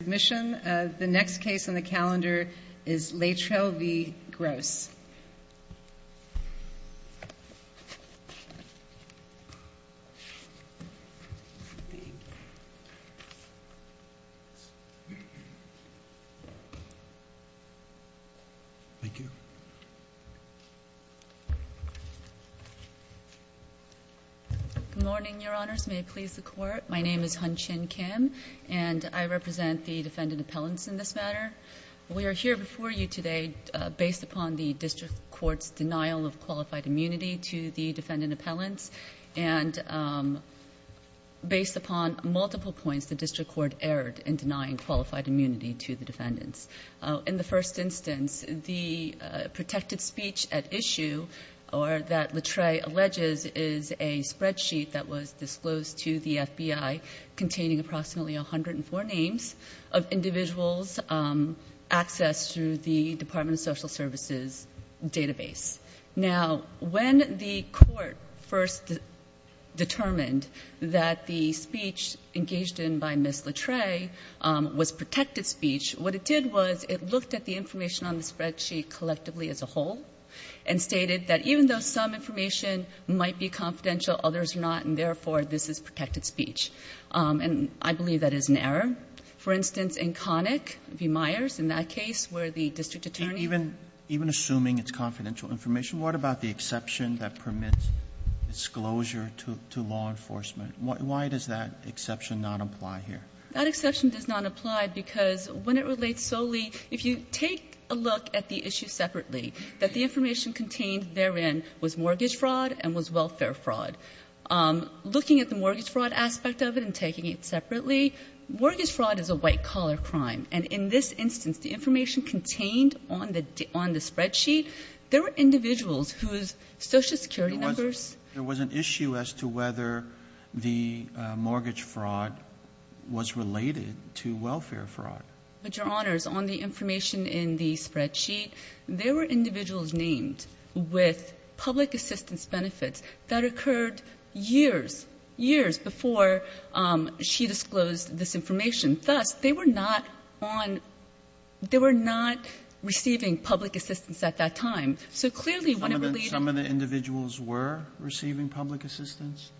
The next case on the calendar is Leitreille v. Gross. Good morning, Your Honors. May it please the Court. My name is Hun Chin Kim, and I represent the defendant appellants in this matter. We are here before you today based upon the district court's denial of qualified immunity to the defendant appellants and based upon multiple points the district court erred in denying qualified immunity to the defendants. In the first instance, the protected speech at issue that Leitreille alleges is a spreadsheet that was disclosed to the FBI containing approximately 104 names of individuals accessed through the Department of Social Services database. Now, when the court first determined that the speech engaged in by Ms. Leitreille was protected speech, what it did was it looked at the information on the spreadsheet collectively as a whole and stated that even though some information might be confidential, others are not, and therefore this is protected speech. And I believe that is an error. For instance, in Connick v. Myers, in that case, where the district attorney ---- Roberts, even assuming it's confidential information, what about the exception that permits disclosure to law enforcement? Why does that exception not apply here? That exception does not apply because when it relates solely ---- If you take a look at the issue separately, that the information contained therein was mortgage fraud and was welfare fraud, looking at the mortgage fraud aspect of it and taking it separately, mortgage fraud is a white-collar crime. And in this instance, the information contained on the spreadsheet, there were individuals whose Social Security numbers ---- There was an issue as to whether the mortgage fraud was related to welfare fraud. But, Your Honors, on the information in the spreadsheet, there were individuals named with public assistance benefits that occurred years, years before she disclosed this information. Thus, they were not on ---- they were not receiving public assistance at that time. So clearly when it relates ---- Some of the individuals were receiving public assistance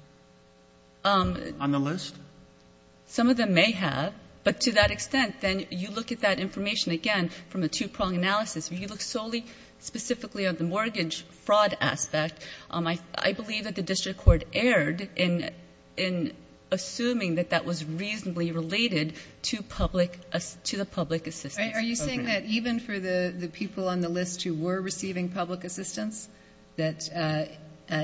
on the list? Some of them may have. But to that extent, then you look at that information again from a two-prong analysis. If you look solely specifically at the mortgage fraud aspect, I believe that the district court erred in assuming that that was reasonably related to public ---- to the public assistance program. Are you saying that even for the people on the list who were receiving public assistance, that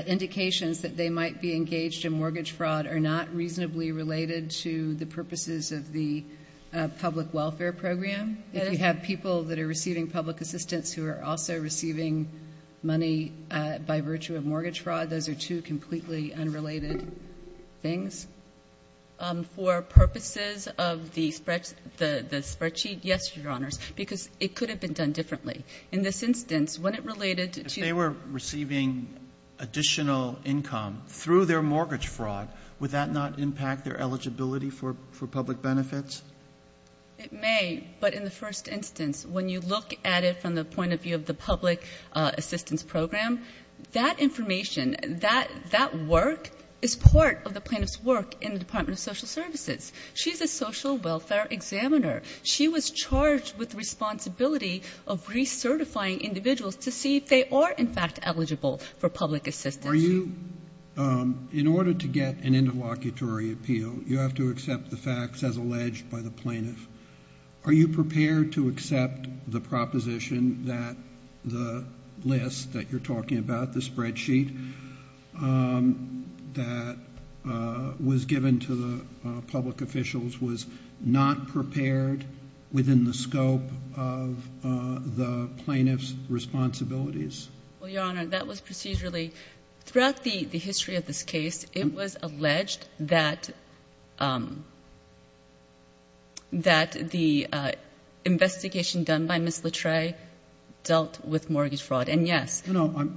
indications that they might be engaged in mortgage fraud are not reasonably related to the purposes of the public welfare program? If you have people that are receiving public assistance who are also receiving money by virtue of mortgage fraud, those are two completely unrelated things? For purposes of the spreadsheet, yes, Your Honors, because it could have been done differently. In this instance, when it related to ---- If they were receiving additional income through their mortgage fraud, would that not impact their eligibility for public benefits? It may. But in the first instance, when you look at it from the point of view of the public assistance program, that information, that work, is part of the plaintiff's work in the Department of Social Services. She's a social welfare examiner. She was charged with responsibility of recertifying individuals to see if they are, in fact, eligible for public assistance. In order to get an interlocutory appeal, you have to accept the facts as alleged by the plaintiff. Are you prepared to accept the proposition that the list that you're talking about, the spreadsheet that was given to the public officials, was not prepared within the scope of the plaintiff's responsibilities? Well, Your Honor, that was procedurally ---- Throughout the history of this case, it was alleged that the investigation done by Ms. Latrey dealt with mortgage fraud, and yes. No, no.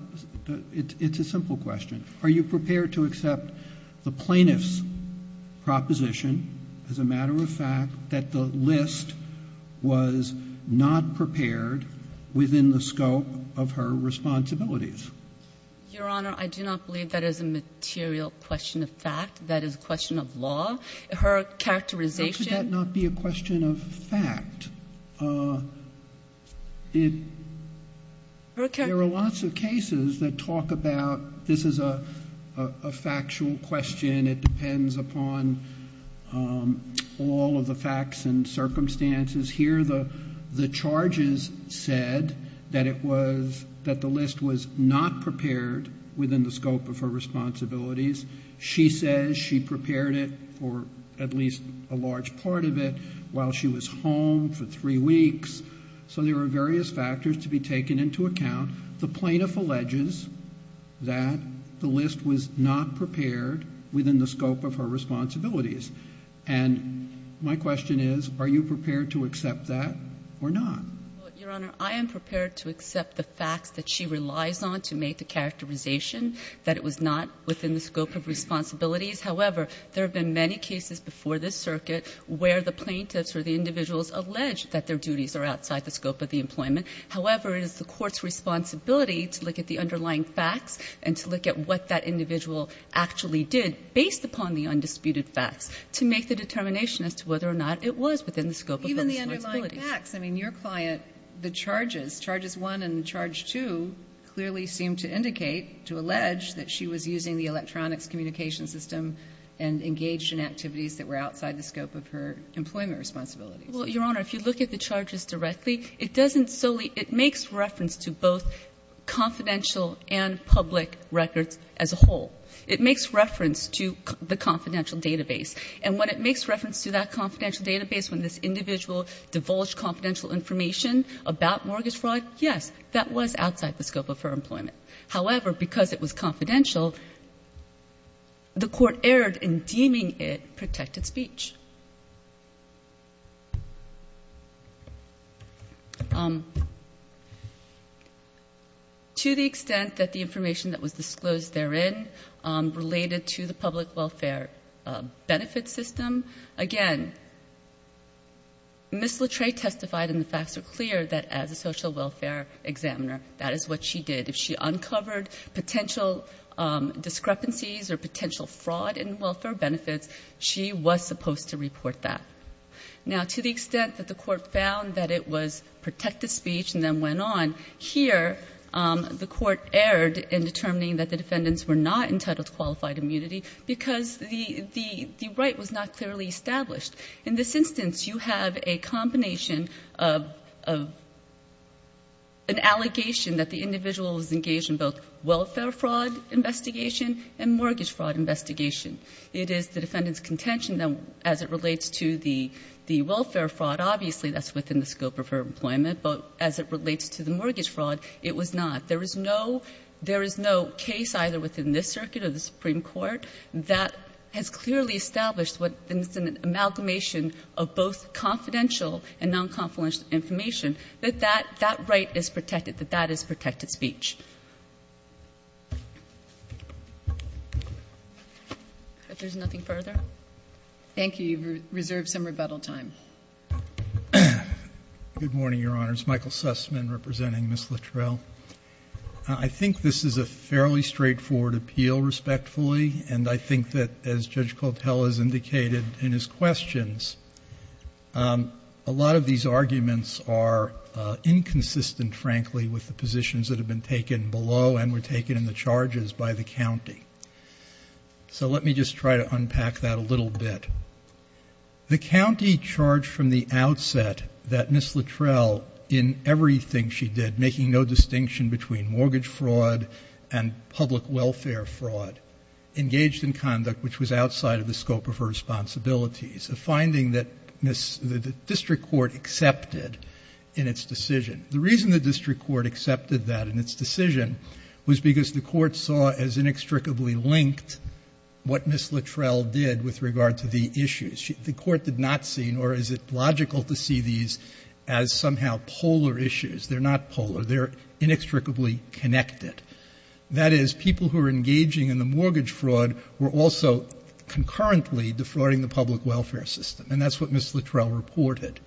It's a simple question. Are you prepared to accept the plaintiff's proposition as a matter of fact that the list was not prepared within the scope of her responsibilities? Your Honor, I do not believe that is a material question of fact. That is a question of law. Her characterization ---- How could that not be a question of fact? There are lots of cases that talk about this is a factual question. It depends upon all of the facts and circumstances. Here the charges said that it was ---- that the list was not prepared within the scope of her responsibilities. She says she prepared it for at least a large part of it while she was home for three weeks. So there are various factors to be taken into account. The plaintiff alleges that the list was not prepared within the scope of her responsibilities. And my question is, are you prepared to accept that or not? Your Honor, I am prepared to accept the facts that she relies on to make the characterization that it was not within the scope of responsibilities. However, there have been many cases before this circuit where the plaintiffs or the individuals allege that their duties are outside the scope of the employment. However, it is the court's responsibility to look at the underlying facts and to look at what that individual actually did based upon the undisputed facts to make the determination as to whether or not it was within the scope of those responsibilities. Even the underlying facts. I mean, your client, the charges, charges 1 and charge 2, clearly seem to indicate to allege that she was using the electronics communication system and engaged in activities that were outside the scope of her employment responsibilities. Well, your Honor, if you look at the charges directly, it doesn't solely – it makes reference to both confidential and public records as a whole. It makes reference to the confidential database. And when it makes reference to that confidential database, when this individual divulged confidential information about mortgage fraud, yes, that was outside the scope of her employment. However, because it was confidential, the court erred in deeming it protected speech. To the extent that the information that was disclosed therein related to the public welfare benefit system, again, Ms. Latrey testified and the facts were clear that as a social welfare examiner, that is what she did. If she uncovered potential discrepancies or potential fraud in welfare benefits, she was supposed to report that. Now, to the extent that the court found that it was protected speech and then went on, here the court erred in determining that the defendants were not entitled to qualified immunity because the right was not clearly established. In this instance, you have a combination of an allegation that the individual was engaged in both welfare fraud investigation and mortgage fraud investigation. It is the defendant's contention that as it relates to the welfare fraud, obviously that's within the scope of her employment, but as it relates to the mortgage fraud, it was not. There is no case either within this circuit or the Supreme Court that has clearly established what is an amalgamation of both confidential and nonconfidential information, that that right is protected, that that is protected speech. If there's nothing further. Thank you. You've reserved some rebuttal time. Good morning, Your Honors. Michael Sussman representing Ms. Littrell. I think this is a fairly straightforward appeal, respectfully, and I think that as Judge Cotel has indicated in his questions, a lot of these arguments are inconsistent, frankly, with the positions that have been taken below and were taken in the charges by the county. So let me just try to unpack that a little bit. The county charged from the outset that Ms. Littrell, in everything she did, making no distinction between mortgage fraud and public welfare fraud, engaged in conduct which was outside of the scope of her responsibilities, a finding that the district court accepted in its decision. The reason the district court accepted that in its decision was because the court saw as inextricably linked what Ms. Littrell did with regard to the issues. The court did not see, nor is it logical to see these as somehow polar issues. They're not polar. They're inextricably connected. That is, people who are engaging in the mortgage fraud were also concurrently defrauding the public welfare system. And that's what Ms. Littrell reported.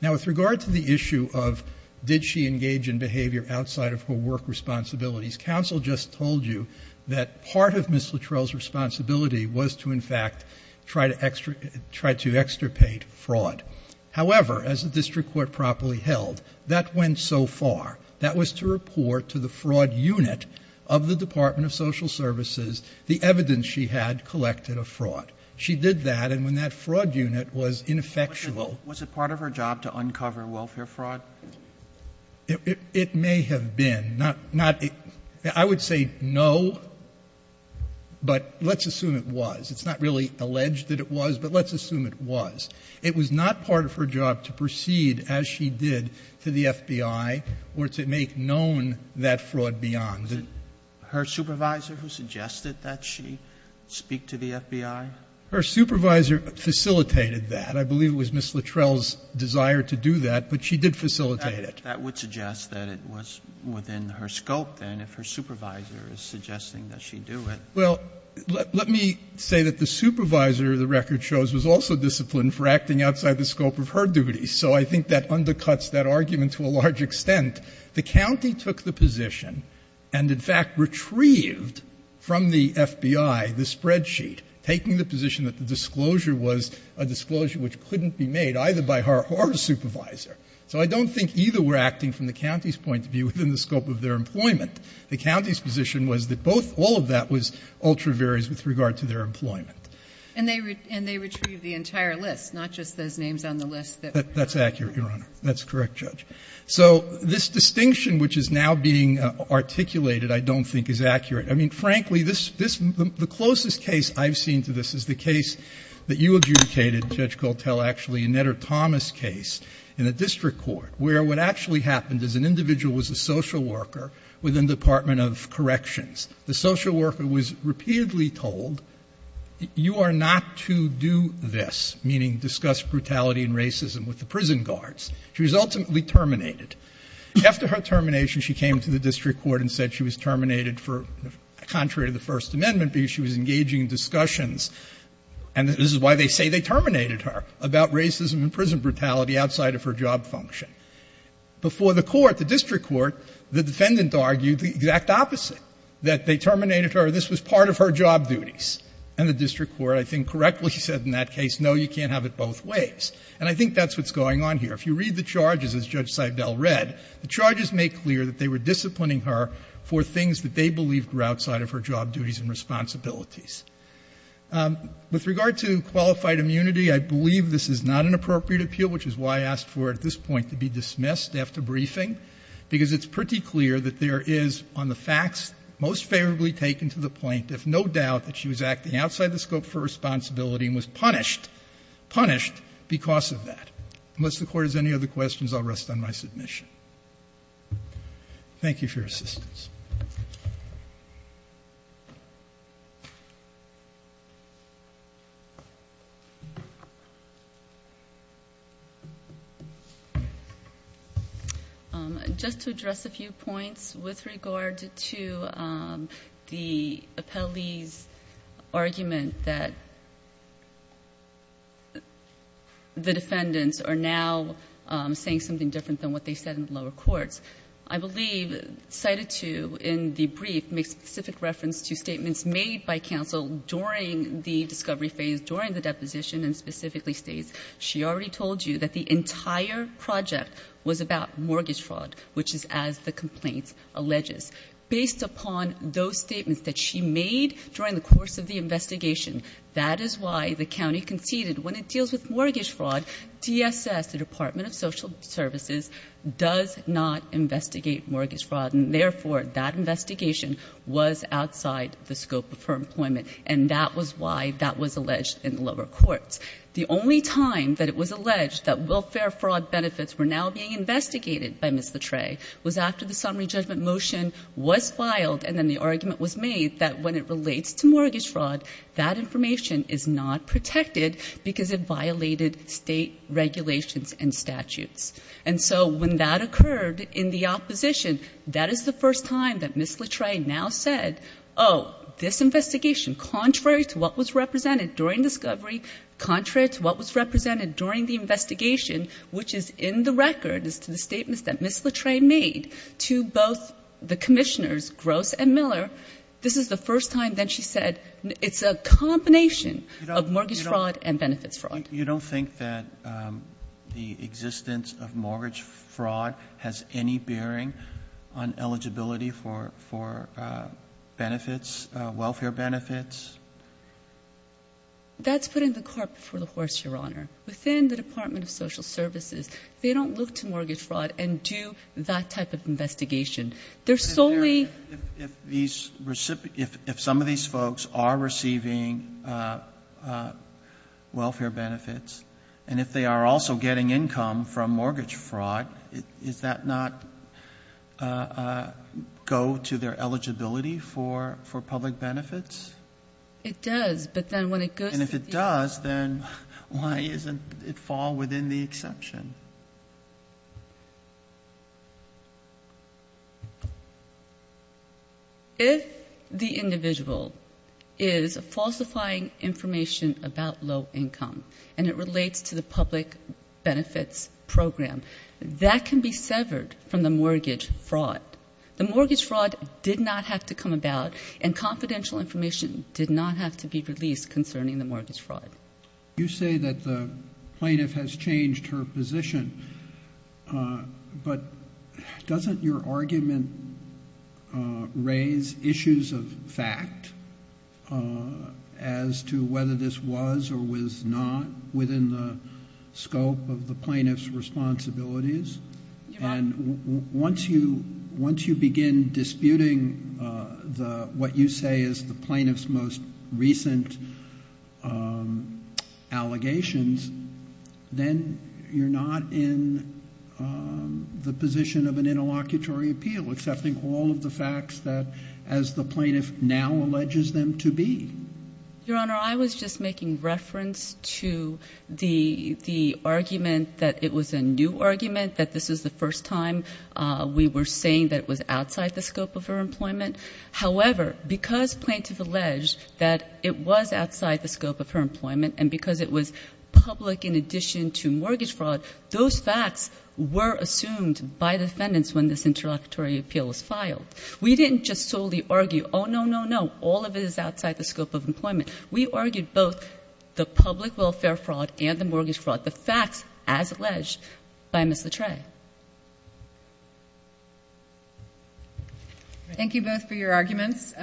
Now, with regard to the issue of did she engage in behavior outside of her work responsibilities, counsel just told you that part of Ms. Littrell's responsibility was to, in fact, try to extirpate fraud. However, as the district court properly held, that went so far. That was to report to the fraud unit of the Department of Social Services the evidence she had collected of fraud. She did that, and when that fraud unit was ineffectual, Was it part of her job to uncover welfare fraud? It may have been. I would say no, but let's assume it was. It's not really alleged that it was, but let's assume it was. It was not part of her job to proceed as she did to the FBI or to make known that fraud beyond. Was it her supervisor who suggested that she speak to the FBI? Her supervisor facilitated that. I believe it was Ms. Littrell's desire to do that, but she did facilitate it. That would suggest that it was within her scope, then, if her supervisor is suggesting that she do it. Well, let me say that the supervisor, the record shows, was also disciplined for acting outside the scope of her duties. So I think that undercuts that argument to a large extent. The county took the position and, in fact, retrieved from the FBI the spreadsheet, taking the position that the disclosure was a disclosure which couldn't be made either by her or her supervisor. So I don't think either were acting from the county's point of view within the scope of their employment. The county's position was that both, all of that was ultra various with regard to their employment. And they retrieved the entire list, not just those names on the list that were not there. That's accurate, Your Honor. That's correct, Judge. So this distinction which is now being articulated I don't think is accurate. I mean, frankly, this, this, the closest case I've seen to this is the case that you adjudicated, Judge Coltell, actually, a Netter-Thomas case in the district court, where what actually happened is an individual was a social worker within the Department of Corrections. The social worker was repeatedly told, you are not to do this, meaning discuss brutality and racism with the prison guards. She was ultimately terminated. After her termination, she came to the district court and said she was terminated for, contrary to the First Amendment, because she was engaging in discussions and this is why they say they terminated her, about racism and prison brutality outside of her job function. Before the court, the district court, the defendant argued the exact opposite, that they terminated her, this was part of her job duties. And the district court, I think, correctly said in that case, no, you can't have it both ways. And I think that's what's going on here. If you read the charges, as Judge Seibel read, the charges make clear that they were disciplining her for things that they believed were outside of her job duties and responsibilities. With regard to qualified immunity, I believe this is not an appropriate appeal, which is why I asked for it at this point to be dismissed after briefing, because it's pretty clear that there is, on the facts, most favorably taken to the point if no doubt that she was acting outside the scope for responsibility and was punished because of that. Unless the Court has any other questions, I'll rest on my submission. Thank you for your assistance. Just to address a few points with regard to the appellee's argument that the defendants are now saying something different than what they said in the lower courts, I believe Judge Seibel cited to in the brief make specific reference to statements made by counsel during the discovery phase, during the deposition, and specifically states she already told you that the entire project was about mortgage fraud, which is as the complaint alleges. Based upon those statements that she made during the course of the investigation, that is why the county conceded when it deals with mortgage fraud, DSS, the Department of Social Services, does not investigate mortgage fraud, and therefore that investigation was outside the scope of her employment. And that was why that was alleged in the lower courts. The only time that it was alleged that welfare fraud benefits were now being investigated by Ms. Latreille was after the summary judgment motion was filed and then the argument was made that when it relates to mortgage fraud, that information is not protected because it violated state regulations and statutes. And so when that occurred in the opposition, that is the first time that Ms. Latreille now said, oh, this investigation, contrary to what was represented during discovery, contrary to what was represented during the investigation, which is in the record as to the statements that Ms. Latreille made to both the commissioners, Gross and Miller, this is the first time that she said it's a combination of mortgage fraud and benefits fraud. Roberts. You don't think that the existence of mortgage fraud has any bearing on eligibility for benefits, welfare benefits? That's put in the cart before the horse, Your Honor. Within the Department of Social Services, they don't look to mortgage fraud and do that type of investigation. They're solely ---- If some of these folks are receiving welfare benefits and if they are also getting income from mortgage fraud, does that not go to their eligibility for public benefits? It does, but then when it goes to the ---- And if it does, then why doesn't it fall within the exception? If the individual is falsifying information about low income and it relates to the public benefits program, that can be severed from the mortgage fraud. The mortgage fraud did not have to come about and confidential information did not have to be released concerning the mortgage fraud. You say that the plaintiff has changed her position, but doesn't your argument raise issues of fact as to whether this was or was not within the scope of the plaintiff's responsibilities? Your Honor. Once you begin disputing what you say is the plaintiff's most recent allegations, then you're not in the position of an interlocutory appeal, accepting all of the facts that, as the plaintiff now alleges them to be. Your Honor, I was just making reference to the argument that it was a new argument, that this is the first time we were saying that it was outside the scope of her employment. However, because plaintiff alleged that it was outside the scope of her employment and because it was public in addition to mortgage fraud, those facts were assumed by defendants when this interlocutory appeal was filed. We didn't just solely argue, oh, no, no, no, all of it is outside the scope of employment. We argued both the public welfare fraud and the mortgage fraud, the facts as alleged by Ms. Latreille. Thank you both for your arguments.